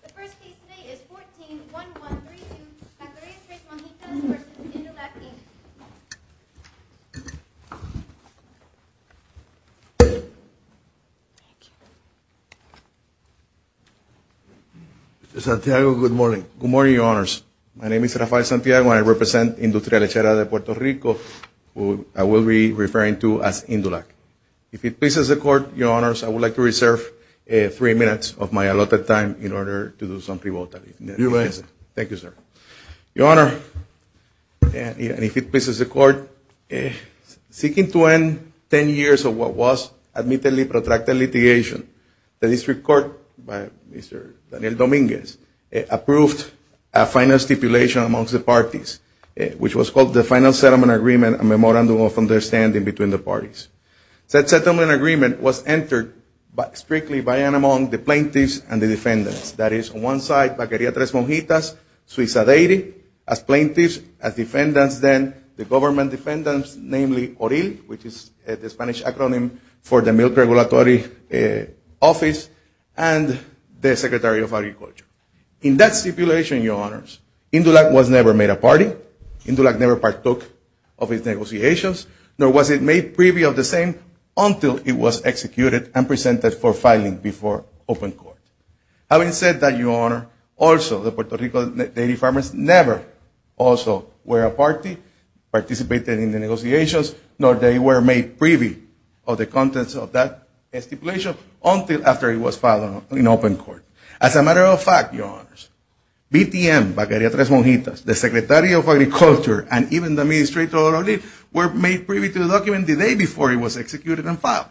The first case today is 14-1132, Caqueria Tres Monjitas v. Indulac, Inc. Mr. Santiago, good morning. Good morning, Your Honors. My name is Rafael Santiago and I represent Industria Lechera de Puerto Rico, who I will be referring to as Indulac. If it pleases the Court, Your Honors, I would like to reserve three minutes of my allotted time in order to do some pre-voting. You may. Thank you, sir. Your Honor, if it pleases the Court, seeking to end ten years of what was admittedly protracted litigation, the District Court, by Mr. Daniel Dominguez, approved a final stipulation amongst the parties, which was called the Final Settlement Agreement, a memorandum of understanding between the parties. That settlement agreement was entered strictly by and among the plaintiffs and the defendants. That is, on one side, Caqueria Tres Monjitas, Suiza Deity, as plaintiffs, as defendants then, the government defendants, namely, ORIL, which is the Spanish acronym for the Milk Regulatory Office, and the Secretary of Agriculture. In that stipulation, Your Honors, Indulac was never made a party. Indulac never partook of its negotiations, nor was it made privy of the same until it was executed and presented for filing before open court. Having said that, Your Honor, also the Puerto Rico daily farmers never also were a party, participated in the negotiations, nor they were made privy of the contents of that stipulation until after it was filed in open court. As a matter of fact, Your Honors, BTM, Caqueria Tres Monjitas, the Secretary of Agriculture, and even the Administrator ORIL were made privy to the document the day before it was executed and filed.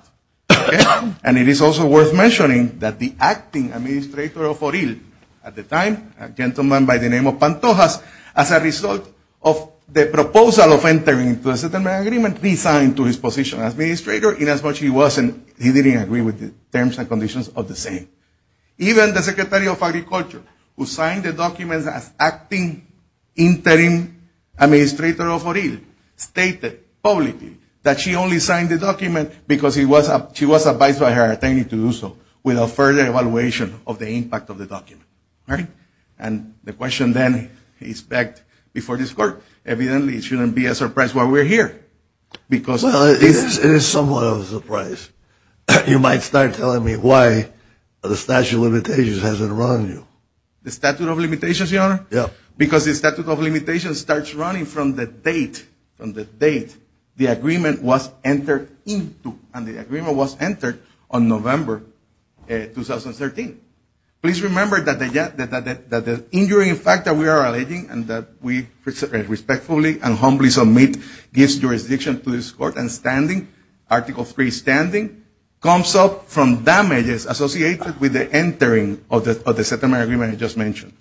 And it is also worth mentioning that the acting Administrator of ORIL at the time, a gentleman by the name of Pantojas, as a result of the proposal of entering into a settlement agreement, resigned to his position as Administrator inasmuch he wasn't, he didn't agree with the terms and conditions of the same. Even the Secretary of Agriculture, who signed the document as acting interim Administrator of ORIL, stated publicly that she only signed the document because she was advised by her attorney to do so without further evaluation of the impact of the document. All right? And the question then is back before this Court. Evidently, it shouldn't be a surprise why we're here. Well, it is somewhat of a surprise. You might start telling me why the statute of limitations hasn't run you. The statute of limitations, Your Honor? Yeah. Because the statute of limitations starts running from the date, from the date the agreement was entered into. And the agreement was entered on November 2013. Please remember that the injuring factor we are alleging and that we respectfully and humbly submit this jurisdiction to this Court and standing, Article III standing, comes up from damages associated with the entering of the settlement agreement I just mentioned.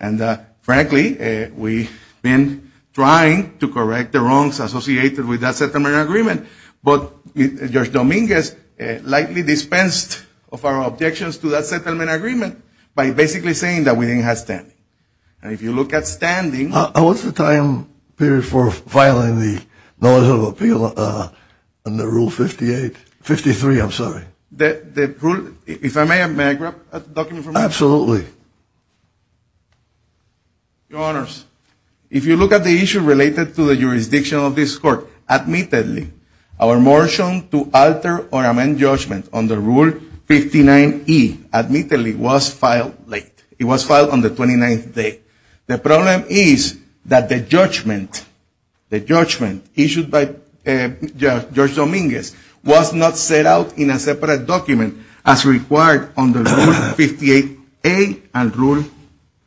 And frankly, we've been trying to correct the wrongs associated with that settlement agreement, but Judge Dominguez lightly dispensed of our objections to that settlement agreement by basically saying that we didn't have standing. And if you look at standing... What's the time period for filing the notice of appeal under Rule 58? Fifty-three, I'm sorry. If I may, may I grab a document from you? Absolutely. Your Honors, if you look at the issue related to the jurisdiction of this Court, admittedly, our motion to alter or amend judgment under Rule 59E admittedly was filed late. The problem is that the judgment issued by Judge Dominguez was not set out in a separate document as required under Rule 58A and Rule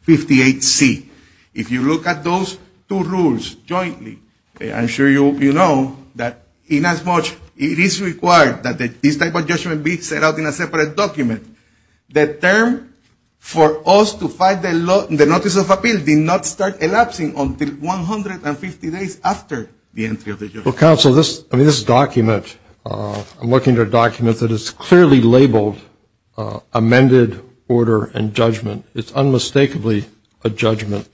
58C. If you look at those two rules jointly, I'm sure you know that inasmuch it is required that this type of judgment be set out in a separate document, the term for us to file the notice of appeal did not start elapsing until 150 days after the entry of the judgment. Well, Counsel, this document, I'm looking at a document that is clearly labeled amended order and judgment. It's unmistakably a judgment.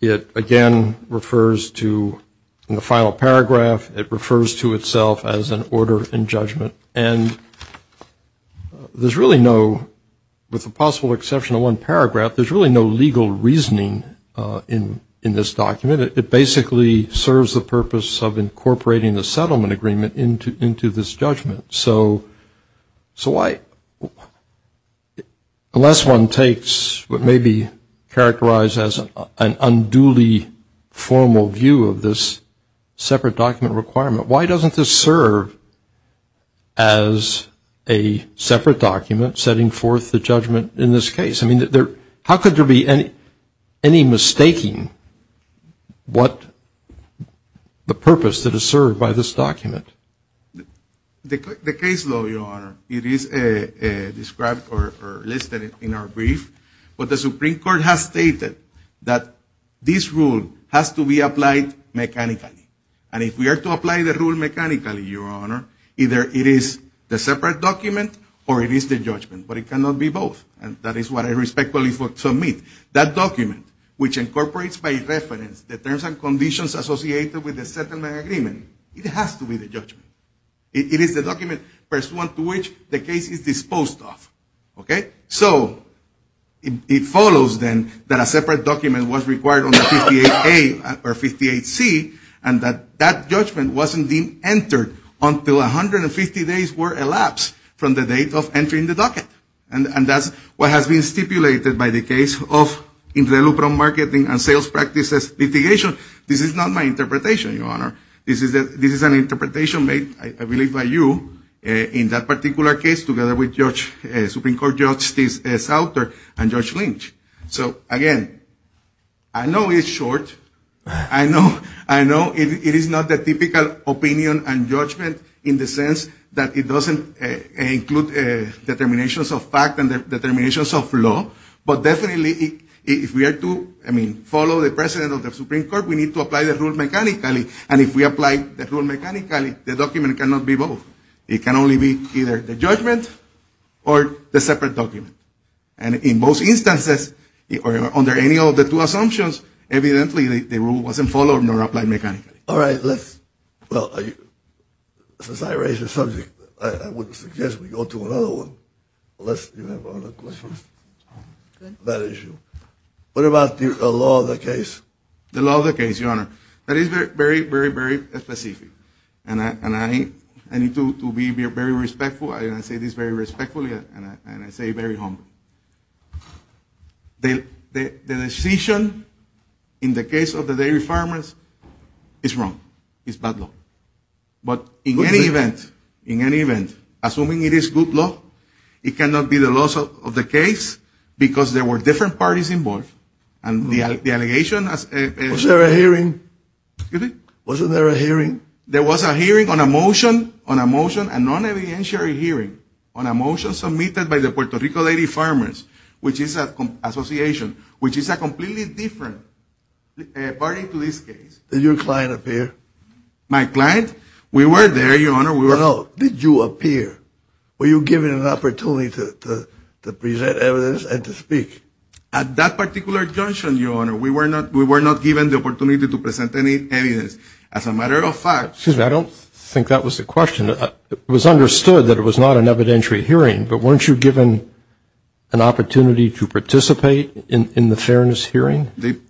It, again, refers to, in the final paragraph, it refers to itself as an order and judgment. And there's really no, with the possible exception of one paragraph, there's really no legal reasoning in this document. It basically serves the purpose of incorporating the settlement agreement into this judgment. So unless one takes what may be characterized as an unduly formal view of this separate document requirement, why doesn't this serve as a separate document setting forth the judgment in this case? I mean, how could there be any mistaking what the purpose that is served by this document? The case law, Your Honor, it is described or listed in our brief, but the Supreme Court has stated that this rule has to be applied mechanically. And if we are to apply the rule mechanically, Your Honor, either it is the separate document or it is the judgment. But it cannot be both. And that is what I respectfully submit. That document, which incorporates by reference the terms and conditions associated with the settlement agreement, it has to be the judgment. It is the document pursuant to which the case is disposed of. Okay? So it follows, then, that a separate document was required under 58A or 58C, and that that judgment wasn't being entered until 150 days were elapsed from the date of entry in the docket. And that's what has been stipulated by the case of interloper marketing and sales practices litigation. This is not my interpretation, Your Honor. This is an interpretation made, I believe, by you in that particular case, together with Supreme Court Justice Sauter and Judge Lynch. So, again, I know it's short. I know it is not the typical opinion and judgment in the sense that it doesn't include determinations of fact and determinations of law. But definitely if we are to, I mean, follow the precedent of the Supreme Court, we need to apply the rule mechanically. And if we apply the rule mechanically, the document cannot be both. It can only be either the judgment or the separate document. And in most instances, under any of the two assumptions, evidently the rule wasn't followed nor applied mechanically. All right. Well, since I raised the subject, I would suggest we go to another one. Unless you have other questions on that issue. What about the law of the case? The law of the case, Your Honor. That is very, very, very specific. And I need to be very respectful. I say this very respectfully and I say it very humbly. The decision in the case of the dairy farmers is wrong. It's bad law. But in any event, assuming it is good law, it cannot be the law of the case because there were different parties involved. Was there a hearing? Excuse me? Wasn't there a hearing? There was a hearing on a motion, on a motion and non-evidentiary hearing on a motion submitted by the Puerto Rico dairy farmers, which is an association, which is a completely different party to this case. Did your client appear? My client? We were there, Your Honor. We were out. Did you appear? Were you given an opportunity to present evidence and to speak? At that particular junction, Your Honor, we were not given the opportunity to present any evidence. As a matter of fact, Excuse me, I don't think that was the question. It was understood that it was not an evidentiary hearing, but weren't you given an opportunity to participate in the fairness hearing? The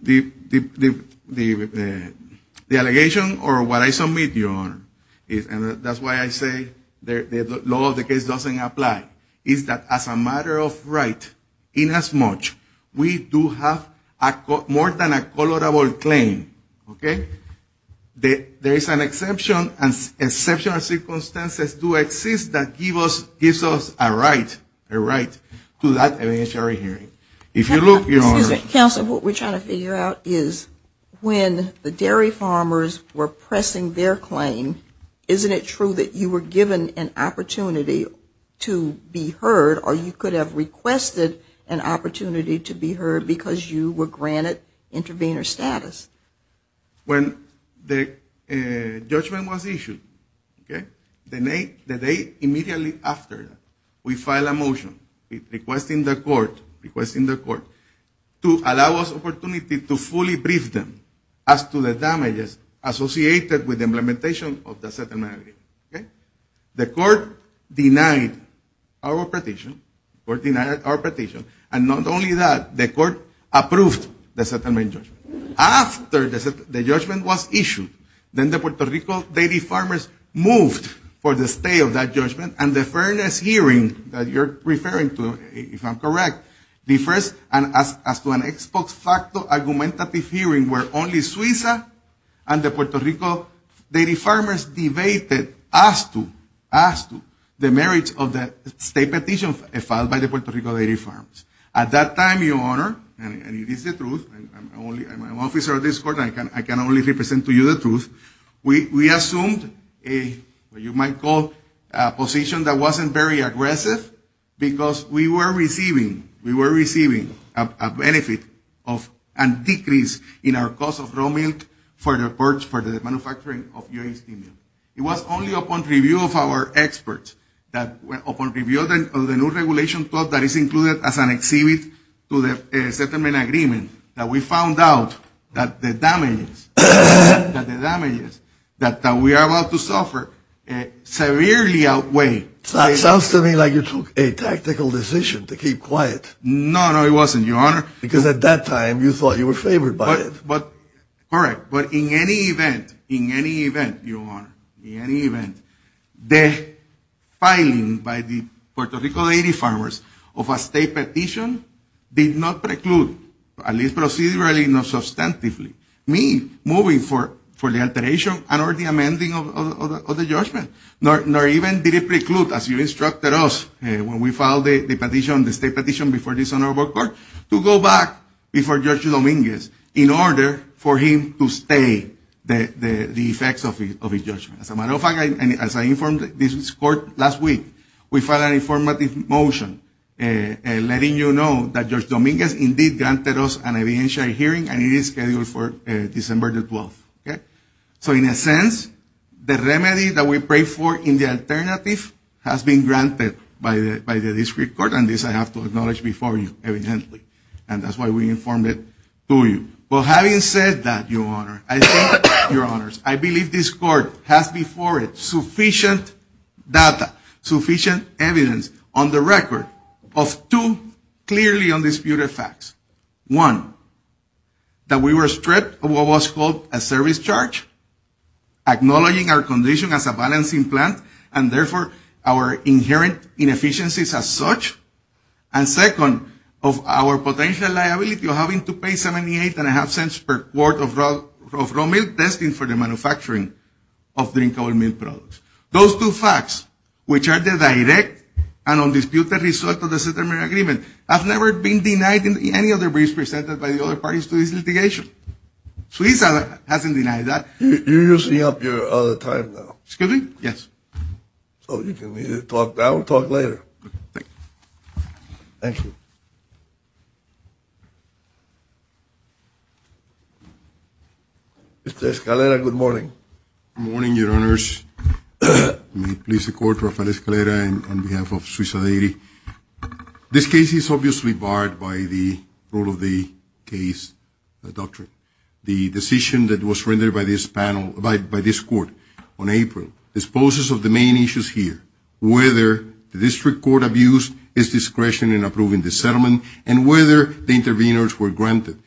allegation or what I submit, Your Honor, and that's why I say the law of the case doesn't apply, is that as a matter of right, inasmuch we do have more than a colorable claim, okay, there is an exception and exceptional circumstances do exist that give us a right to that evidentiary hearing. If you look, Your Honor, Counsel, what we're trying to figure out is when the dairy farmers were pressing their claim, isn't it true that you were given an opportunity to be heard or you could have requested an opportunity to be heard because you were granted intervener status? When the judgment was issued, okay, the day immediately after, we filed a motion requesting the court to allow us an opportunity to fully brief them as to the damages associated with the implementation of the settlement agreement, okay? The court denied our petition, and not only that, the court approved the settlement judgment. After the judgment was issued, then the Puerto Rico dairy farmers moved for the stay of that judgment, and the fairness hearing that you're referring to, if I'm correct, and as to an ex post facto argumentative hearing where only Suiza and the Puerto Rico dairy farmers debated as to the merits of the stay petition filed by the Puerto Rico dairy farms. At that time, Your Honor, and it is the truth, I'm an officer of this court, I can only represent to you the truth, we assumed a, what you might call, a position that wasn't very aggressive because we were receiving, we were receiving a benefit of a decrease in our cost of raw milk for the manufacturing of UAC milk. It was only upon review of our experts, upon review of the new regulation 12 that is included as an exhibit to the settlement agreement that we found out that the damages that we are about to suffer severely outweigh. It sounds to me like you took a tactical decision to keep quiet. No, no, it wasn't, Your Honor. Because at that time you thought you were favored by it. But in any event, Your Honor, in any event, the filing by the Puerto Rico dairy farmers of a stay petition did not preclude, at least procedurally, not substantively, me moving for the alteration and or the amending of the judgment, nor even did it preclude, as you instructed us when we filed the petition, the stay petition before this honorable court, to go back before Judge Dominguez in order for him to stay the effects of his judgment. As a matter of fact, as I informed this court last week, we filed an informative motion letting you know that Judge Dominguez indeed granted us an evidentiary hearing and it is scheduled for December the 12th. So in a sense, the remedy that we prayed for in the alternative has been granted by the district court, and this I have to acknowledge before you evidently, and that's why we informed it to you. But having said that, Your Honor, I think, Your Honors, I believe this court has before it sufficient data, sufficient evidence on the record of two clearly undisputed facts. One, that we were stripped of what was called a service charge, acknowledging our condition as a balancing plant, and therefore our inherent inefficiencies as such. And second, of our potential liability of having to pay 78.5 cents per quart of raw milk, testing for the manufacturing of drinkable milk products. Those two facts, which are the direct and undisputed result of the settlement agreement, have never been denied in any of the briefs presented by the other parties to this litigation. Suiza hasn't denied that. You're using up your time now. Excuse me? Yes. I'll talk later. Thank you. Mr. Escalera, good morning. Good morning, Your Honors. May it please the Court, Rafael Escalera on behalf of Suiza Deiri. This case is obviously barred by the rule of the case doctrine. The decision that was rendered by this panel, by this Court on April, disposes of the main issues here, whether the district court abused its discretion in approving the settlement, and whether the interveners were granted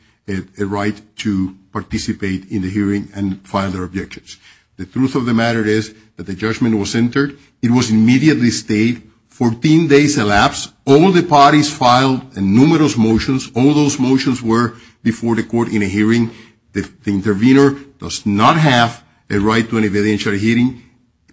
a right to participate in the hearing and file their objections. The truth of the matter is that the judgment was entered. It was immediately stated, 14 days elapsed, all the parties filed numerous motions. All those motions were before the Court in a hearing. The intervener does not have a right to an evidentiary hearing.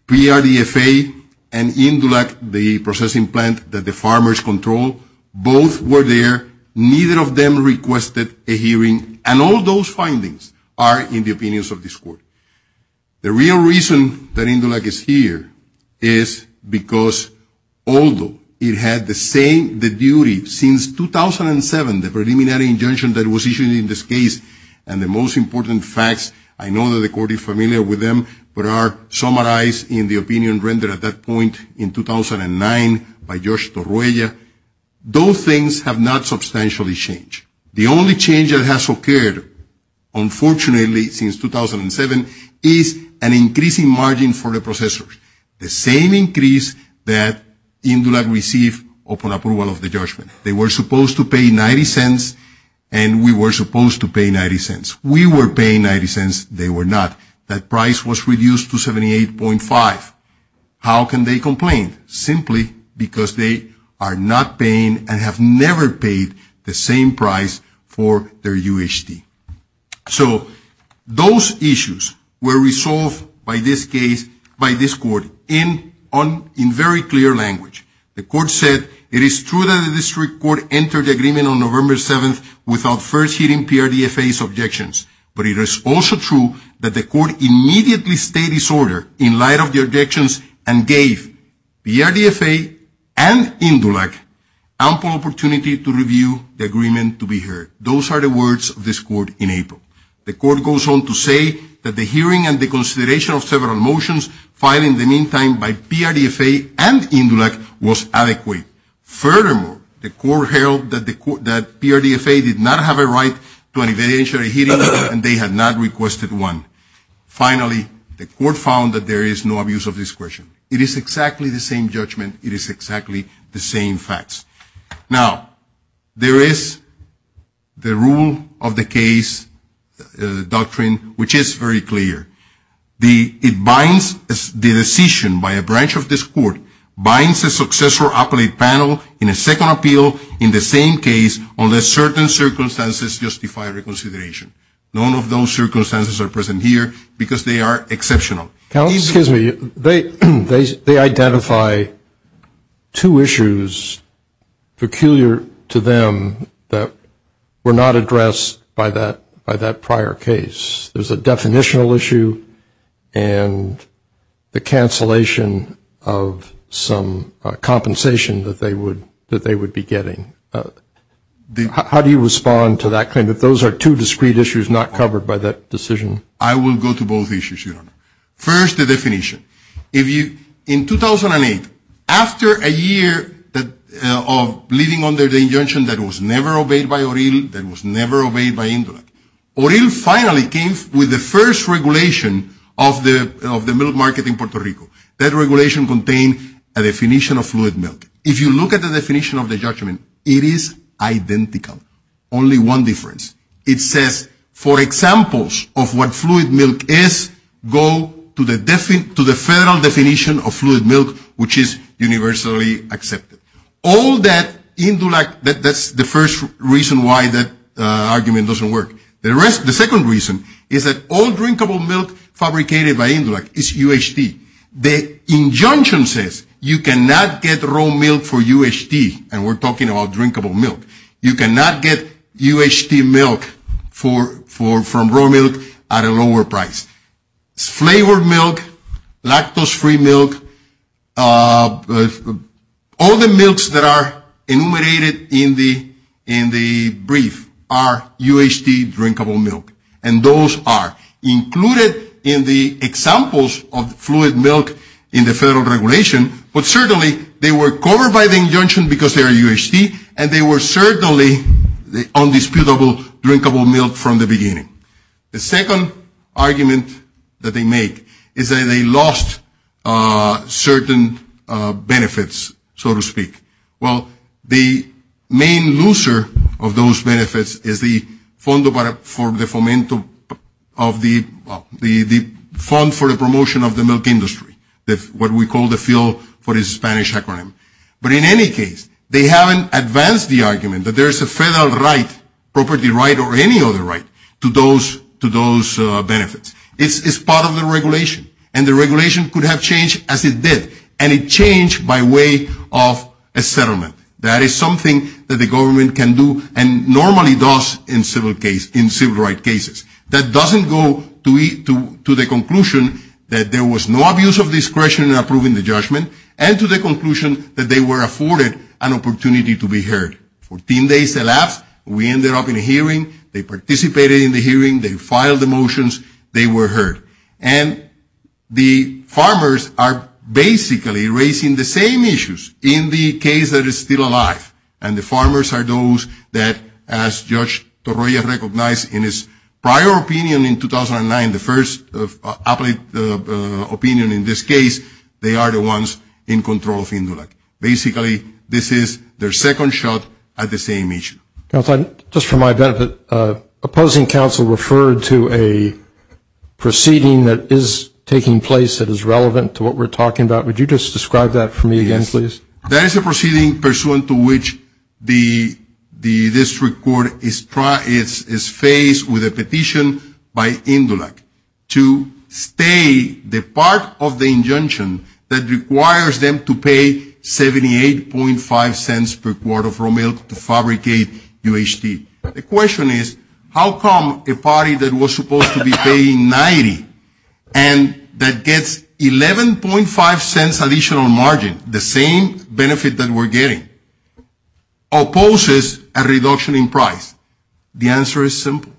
PRDFA and Indulak, the processing plant that the farmers control, both were there. Neither of them requested a hearing. And all those findings are in the opinions of this Court. The real reason that Indulak is here is because although it had the same duty since 2007, the preliminary injunction that was issued in this case, and the most important facts, I know that the Court is familiar with them, but are summarized in the opinion rendered at that point in 2009 by Josh Torroya. Those things have not substantially changed. The only change that has occurred, unfortunately, since 2007 is an increasing margin for the processors. The same increase that Indulak received upon approval of the judgment. They were supposed to pay 90 cents, and we were supposed to pay 90 cents. We were paying 90 cents. They were not. That price was reduced to 78.5. How can they complain? Simply because they are not paying and have never paid the same price for their UHD. So those issues were resolved by this case, by this Court, in very clear language. The Court said it is true that the District Court entered the agreement on November 7th without first hearing PRDFA's objections. But it is also true that the Court immediately stayed its order in light of the objections and gave PRDFA and Indulak ample opportunity to review the agreement to be heard. Those are the words of this Court in April. The Court goes on to say that the hearing and the consideration of several motions filed in the meantime by PRDFA and Indulak was adequate. Furthermore, the Court held that PRDFA did not have a right to an evidentiary hearing, and they had not requested one. Finally, the Court found that there is no abuse of discretion. It is exactly the same judgment. It is exactly the same facts. Now, there is the rule of the case, the doctrine, which is very clear. It binds the decision by a branch of this Court, binds a successful appellate panel in a second appeal in the same case, unless certain circumstances justify reconsideration. None of those circumstances are present here because they are exceptional. Excuse me. They identify two issues peculiar to them that were not addressed by that prior case. There's a definitional issue and the cancellation of some compensation that they would be getting. How do you respond to that claim that those are two discrete issues not covered by that decision? I will go to both issues, Your Honor. First, the definition. In 2008, after a year of living under the injunction that was never obeyed by Oriel, that was never obeyed by Indulak, Oriel finally came with the first regulation of the milk market in Puerto Rico. That regulation contained a definition of fluid milk. If you look at the definition of the judgment, it is identical, only one difference. It says, for examples of what fluid milk is, go to the federal definition of fluid milk, which is universally accepted. Indulak, that's the first reason why that argument doesn't work. The second reason is that all drinkable milk fabricated by Indulak is UHT. The injunction says you cannot get raw milk for UHT, and we're talking about drinkable milk. You cannot get UHT milk from raw milk at a lower price. Flavored milk, lactose-free milk, all the milks that are enumerated in the brief are UHT drinkable milk, and those are included in the examples of fluid milk in the federal regulation, but certainly they were covered by the injunction because they are UHT, and they were certainly the undisputable drinkable milk from the beginning. The second argument that they make is that they lost certain benefits, so to speak. Well, the main loser of those benefits is the fund for the promotion of the milk industry, what we call the field for the Spanish acronym. But in any case, they haven't advanced the argument that there is a federal right, property right, or any other right to those benefits. It's part of the regulation, and the regulation could have changed as it did, and it changed by way of a settlement. That is something that the government can do and normally does in civil right cases. That doesn't go to the conclusion that there was no abuse of discretion in approving the judgment and to the conclusion that they were afforded an opportunity to be heard. Fourteen days elapsed. We ended up in a hearing. They participated in the hearing. They filed the motions. They were heard. And the farmers are basically raising the same issues in the case that is still alive, and the farmers are those that, as Judge Torroya recognized in his prior opinion in 2009, this is their second shot at the same issue. Just for my benefit, opposing counsel referred to a proceeding that is taking place that is relevant to what we're talking about. Would you just describe that for me again, please? That is a proceeding pursuant to which the district court is faced with a petition by Indulak to stay the part of the injunction that requires them to pay 78.5 cents per quart of raw milk to fabricate UHT. The question is, how come a party that was supposed to be paying 90 and that gets 11.5 cents additional margin, the same benefit that we're getting, opposes a reduction in price? The answer is simple.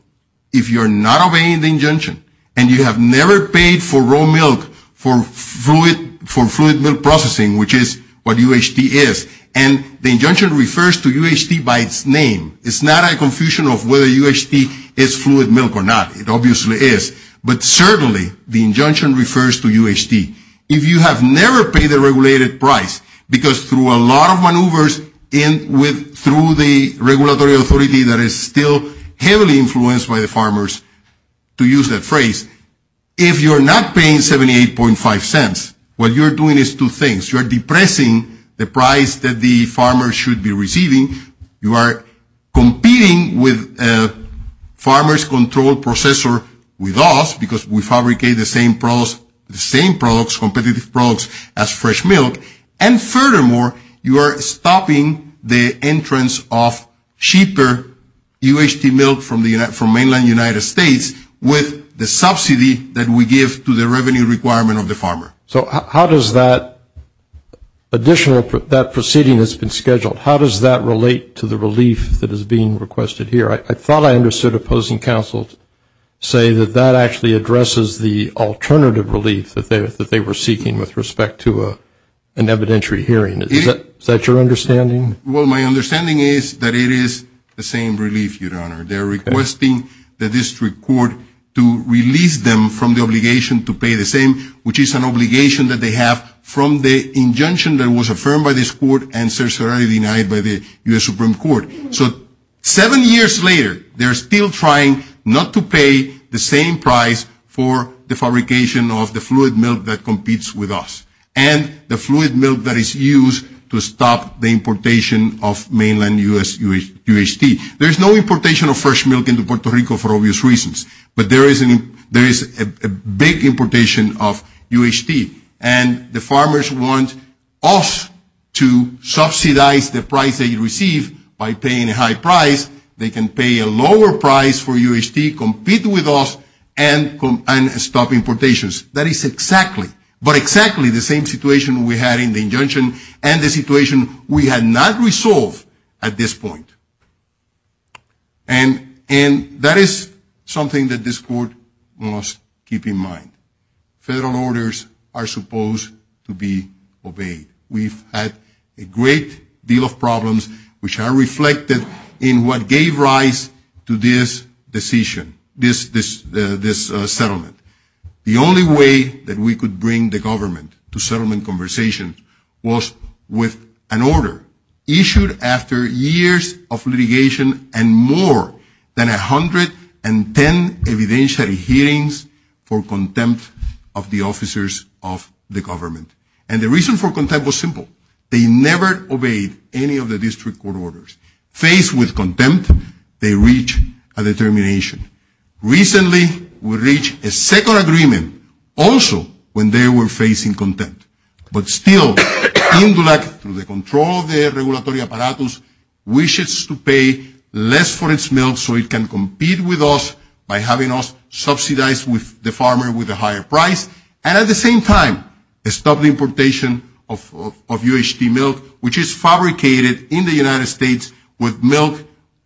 If you're not obeying the injunction and you have never paid for raw milk for fluid milk processing, which is what UHT is, and the injunction refers to UHT by its name, it's not a confusion of whether UHT is fluid milk or not. It obviously is. But certainly the injunction refers to UHT. If you have never paid the regulated price, because through a lot of maneuvers through the regulatory authority that is still heavily influenced by the farmers, to use that phrase, if you're not paying 78.5 cents, what you're doing is two things. You're depressing the price that the farmer should be receiving. You are competing with a farmer's control processor with us because we fabricate the same products, competitive products as fresh milk. And furthermore, you are stopping the entrance of cheaper UHT milk from mainland United States with the subsidy that we give to the revenue requirement of the farmer. So how does that additional, that proceeding that's been scheduled, how does that relate to the relief that is being requested here? I thought I understood opposing counsel say that that actually addresses the alternative relief that they were seeking with respect to an evidentiary hearing. Is that your understanding? Well, my understanding is that it is the same relief, Your Honor. They're requesting the district court to release them from the obligation to pay the same, which is an obligation that they have from the injunction that was affirmed by this court and certainly denied by the U.S. Supreme Court. So seven years later, they're still trying not to pay the same price for the fabrication of the fluid milk that competes with us and the fluid milk that is used to stop the importation of mainland U.S. UHT. There's no importation of fresh milk into Puerto Rico for obvious reasons, but there is a big importation of UHT. And the farmers want us to subsidize the price that you receive by paying a high price. They can pay a lower price for UHT, compete with us, and stop importations. That is exactly, but exactly the same situation we had in the injunction and the situation we had not resolved at this point. And that is something that this court must keep in mind. Federal orders are supposed to be obeyed. We've had a great deal of problems, which are reflected in what gave rise to this decision, this settlement. The only way that we could bring the government to settlement conversation was with an order issued after years of litigation and more than 110 evidentiary hearings for contempt of the officers of the government. And the reason for contempt was simple. They never obeyed any of the district court orders. Faced with contempt, they reached a determination. Recently, we reached a second agreement also when they were facing contempt. But still, Indulac, through the control of the regulatory apparatus, wishes to pay less for its milk so it can compete with us by having us subsidize the farmer with a higher price. And at the same time, stop the importation of UHT milk, which is fabricated in the United States with milk,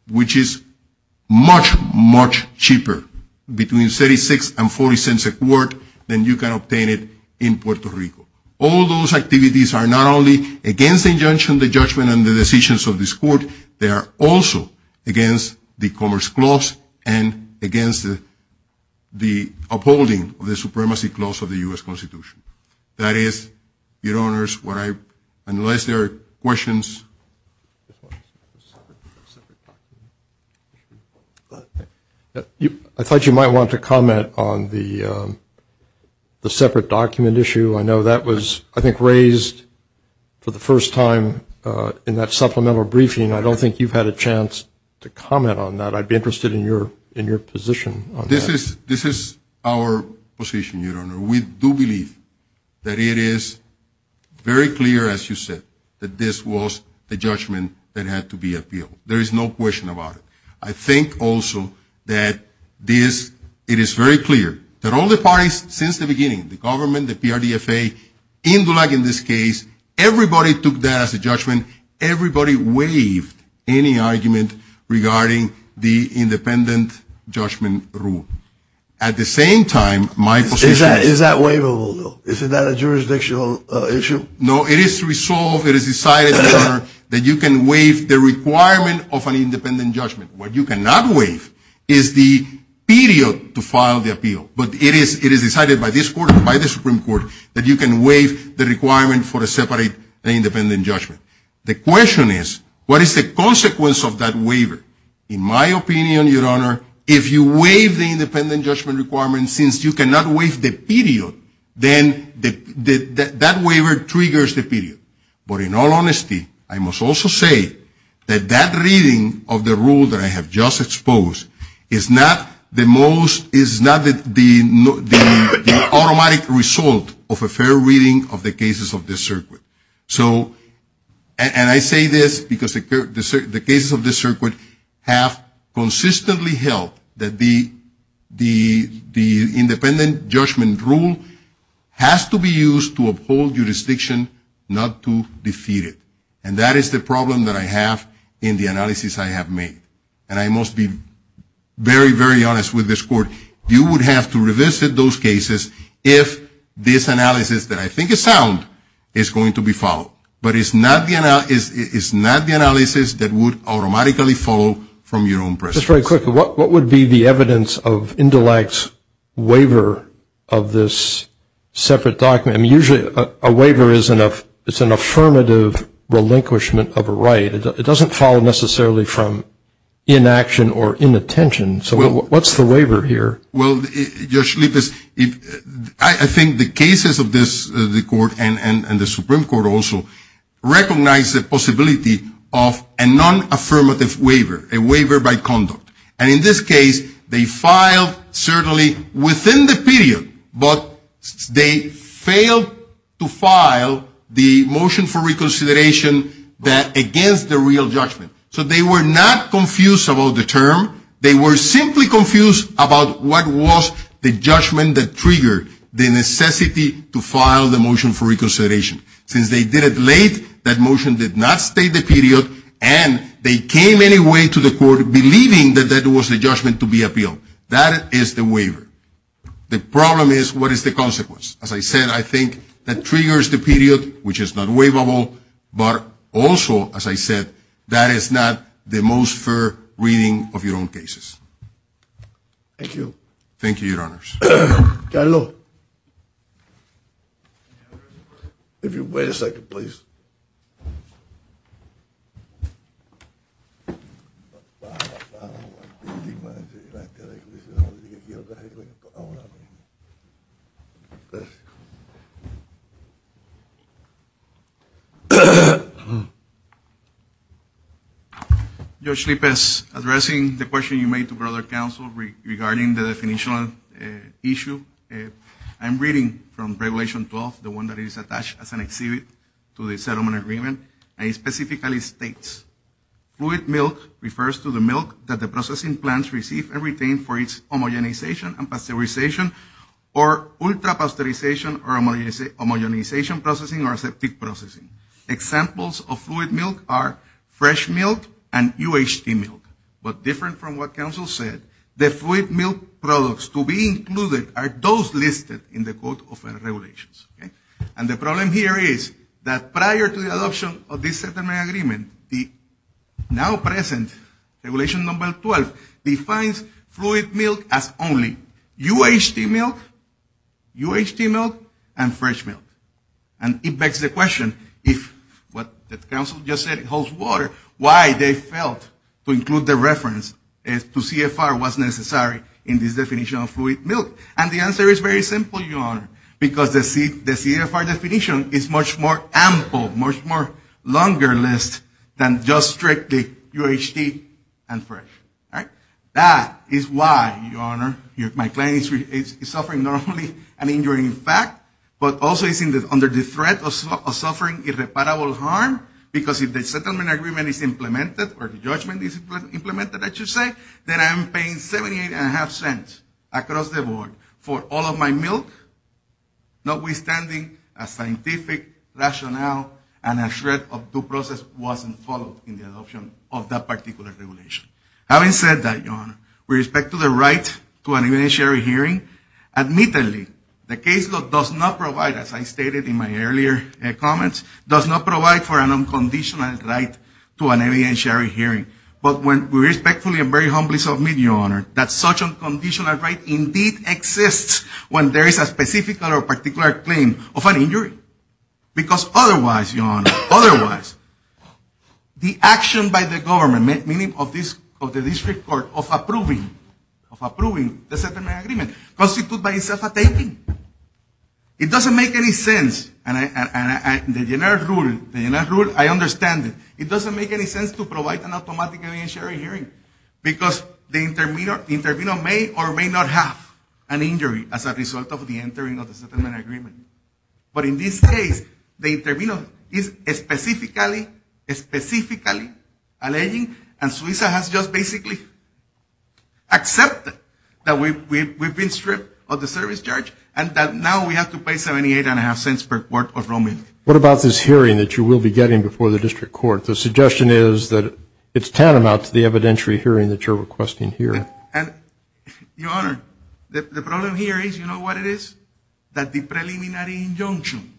which is much, much cheaper, between $0.36 and $0.40 a quart, than you can obtain it in Puerto Rico. All those activities are not only against the injunction, the judgment, and the decisions of this court. They are also against the Commerce Clause and against the upholding of the Supremacy Clause of the U.S. Constitution. That is, your honors, what I, unless there are questions. I thought you might want to comment on the separate document issue. I know that was, I think, raised for the first time in that supplemental briefing. I don't think you've had a chance to comment on that. I'd be interested in your position on that. This is our position, your honor. We do believe that it is very clear, as you said, that this was the judgment that had to be appealed. There is no question about it. I think also that this, it is very clear that all the parties since the beginning, the government, the PRDFA, Indulag in this case, everybody took that as a judgment. Everybody waived any argument regarding the independent judgment rule. At the same time, my position is... Is that waivable, though? Is that a jurisdictional issue? No, it is resolved, it is decided, your honor, that you can waive the requirement of an independent judgment. What you cannot waive is the period to file the appeal. But it is decided by this court and by the Supreme Court that you can waive the requirement for a separate independent judgment. The question is, what is the consequence of that waiver? In my opinion, your honor, if you waive the independent judgment requirement since you cannot waive the period, then that waiver triggers the period. But in all honesty, I must also say that that reading of the rule that I have just exposed is not the most, is not the automatic result of a fair reading of the cases of this circuit. So, and I say this because the cases of this circuit have consistently held that the independent judgment rule has to be used to uphold jurisdiction, not to defeat it. And that is the problem that I have in the analysis I have made. And I must be very, very honest with this court. You would have to revisit those cases if this analysis, that I think is sound, is going to be followed. But it's not the analysis that would automatically follow from your own presence. Just very quickly, what would be the evidence of indelict waiver of this separate document? I mean, usually a waiver is an affirmative relinquishment of a right. It doesn't follow necessarily from inaction or inattention. So what's the waiver here? Well, Judge Lippis, I think the cases of this, the court and the Supreme Court also, recognize the possibility of a nonaffirmative waiver, a waiver by conduct. And in this case, they filed certainly within the period, but they failed to file the motion for reconsideration against the real judgment. So they were not confused about the term. They were simply confused about what was the judgment that triggered the necessity to file the motion for reconsideration. Since they did it late, that motion did not stay the period, and they came anyway to the court believing that that was the judgment to be appealed. That is the waiver. The problem is, what is the consequence? As I said, I think that triggers the period, which is not waivable. But also, as I said, that is not the most fair reading of your own cases. Thank you. Carlos. If you wait a second, please. Thank you. Judge Lippis, addressing the question you made to Brother Counsel regarding the definitional issue, I'm reading from Regulation 12, the one that is attached as an exhibit to the settlement agreement, and it specifically states, fluid milk refers to the milk that the processing plants receive and retain for its homogenization and pasteurization or ultra-pasteurization or homogenization processing or septic processing. Examples of fluid milk are fresh milk and UHT milk. But different from what Counsel said, the fluid milk products to be included are those listed in the Code of Regulations. And the problem here is that prior to the adoption of this settlement agreement, the now present Regulation 12 defines fluid milk as only UHT milk, UHT milk, and fresh milk. And it begs the question, if what Counsel just said holds water, why they felt to include the reference to CFR was necessary in this definition of fluid milk. And the answer is very simple, Your Honor, because the CFR definition is much more ample, much more longer list than just strictly UHT and fresh. That is why, Your Honor, my client is suffering not only an injury in fact, but also is under the threat of suffering irreparable harm, because if the settlement agreement is implemented or the judgment is implemented, I should say, that I'm paying 78.5 cents across the board for all of my milk, notwithstanding a scientific rationale and a threat of due process wasn't followed in the adoption of that particular regulation. Having said that, Your Honor, with respect to the right to an evidentiary hearing, admittedly, the case law does not provide, as I stated in my earlier comments, does not provide for an unconditional right to an evidentiary hearing. But when we respectfully and very humbly submit, Your Honor, that such an unconditional right indeed exists when there is a specific or particular claim of an injury. Because otherwise, Your Honor, otherwise, the action by the government, meaning of the district court, of approving the settlement agreement constitutes by itself a taking. It doesn't make any sense, and the general rule, I understand it. It doesn't make any sense to provide an automatic evidentiary hearing, because the intervenor may or may not have an injury as a result of the entering of the settlement agreement. But in this case, the intervenor is specifically, specifically alleging, and Suiza has just basically accepted that we've been stripped of the service charge and that now we have to pay 78.5 cents per quart of raw milk. What about this hearing that you will be getting before the district court? The suggestion is that it's tantamount to the evidentiary hearing that you're requesting here. And, Your Honor, the problem here is, you know what it is? That the preliminary injunction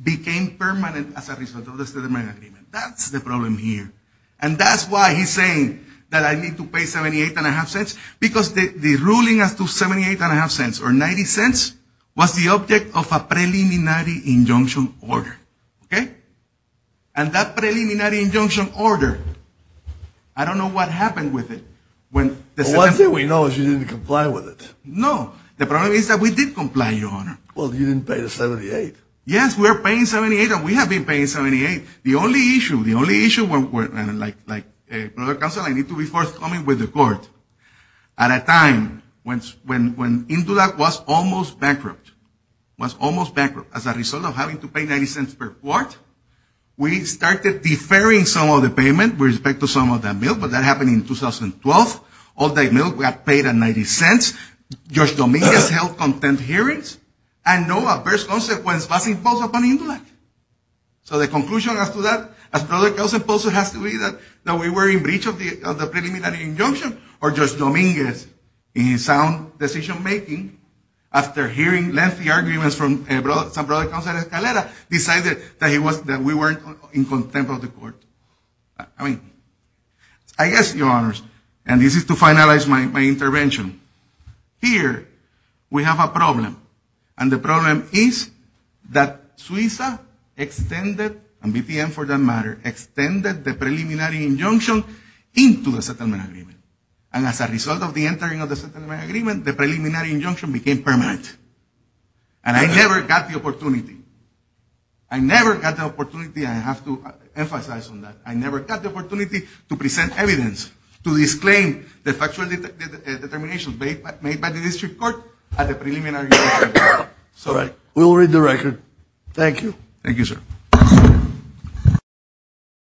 became permanent as a result of the settlement agreement. That's the problem here. And that's why he's saying that I need to pay 78.5 cents, because the ruling as to 78.5 cents or 90 cents was the object of a preliminary injunction order, okay? And that preliminary injunction order, I don't know what happened with it. Well, one thing we know is you didn't comply with it. No. The problem is that we did comply, Your Honor. Well, you didn't pay the 78. Yes, we're paying 78, and we have been paying 78. The only issue, the only issue when, like, a court of counsel, I need to be forthcoming with the court, at a time when Indulak was almost bankrupt, was almost bankrupt, as a result of having to pay 90 cents per quart, we started deferring some of the payment with respect to some of that milk, but that happened in 2012. All that milk got paid at 90 cents. Judge Dominguez held content hearings, and no adverse consequence was imposed upon Indulak. So the conclusion as to that, as to whether it was imposed, has to be that we were in breach of the preliminary injunction, or Judge Dominguez, in his sound decision-making, after hearing lengthy arguments from some brother counsel at Escalera, decided that we weren't in contempt of the court. I mean, I guess, Your Honors, and this is to finalize my intervention, here we have a problem, and the problem is that Suiza extended, and BPM for that matter, extended the preliminary injunction into the settlement agreement. And as a result of the entering of the settlement agreement, the preliminary injunction became permanent. And I never got the opportunity. I never got the opportunity, I have to emphasize on that, I never got the opportunity to present evidence, to disclaim the factual determination made by the district court at the preliminary injunction. All right. We'll read the record. Thank you. Thank you, sir.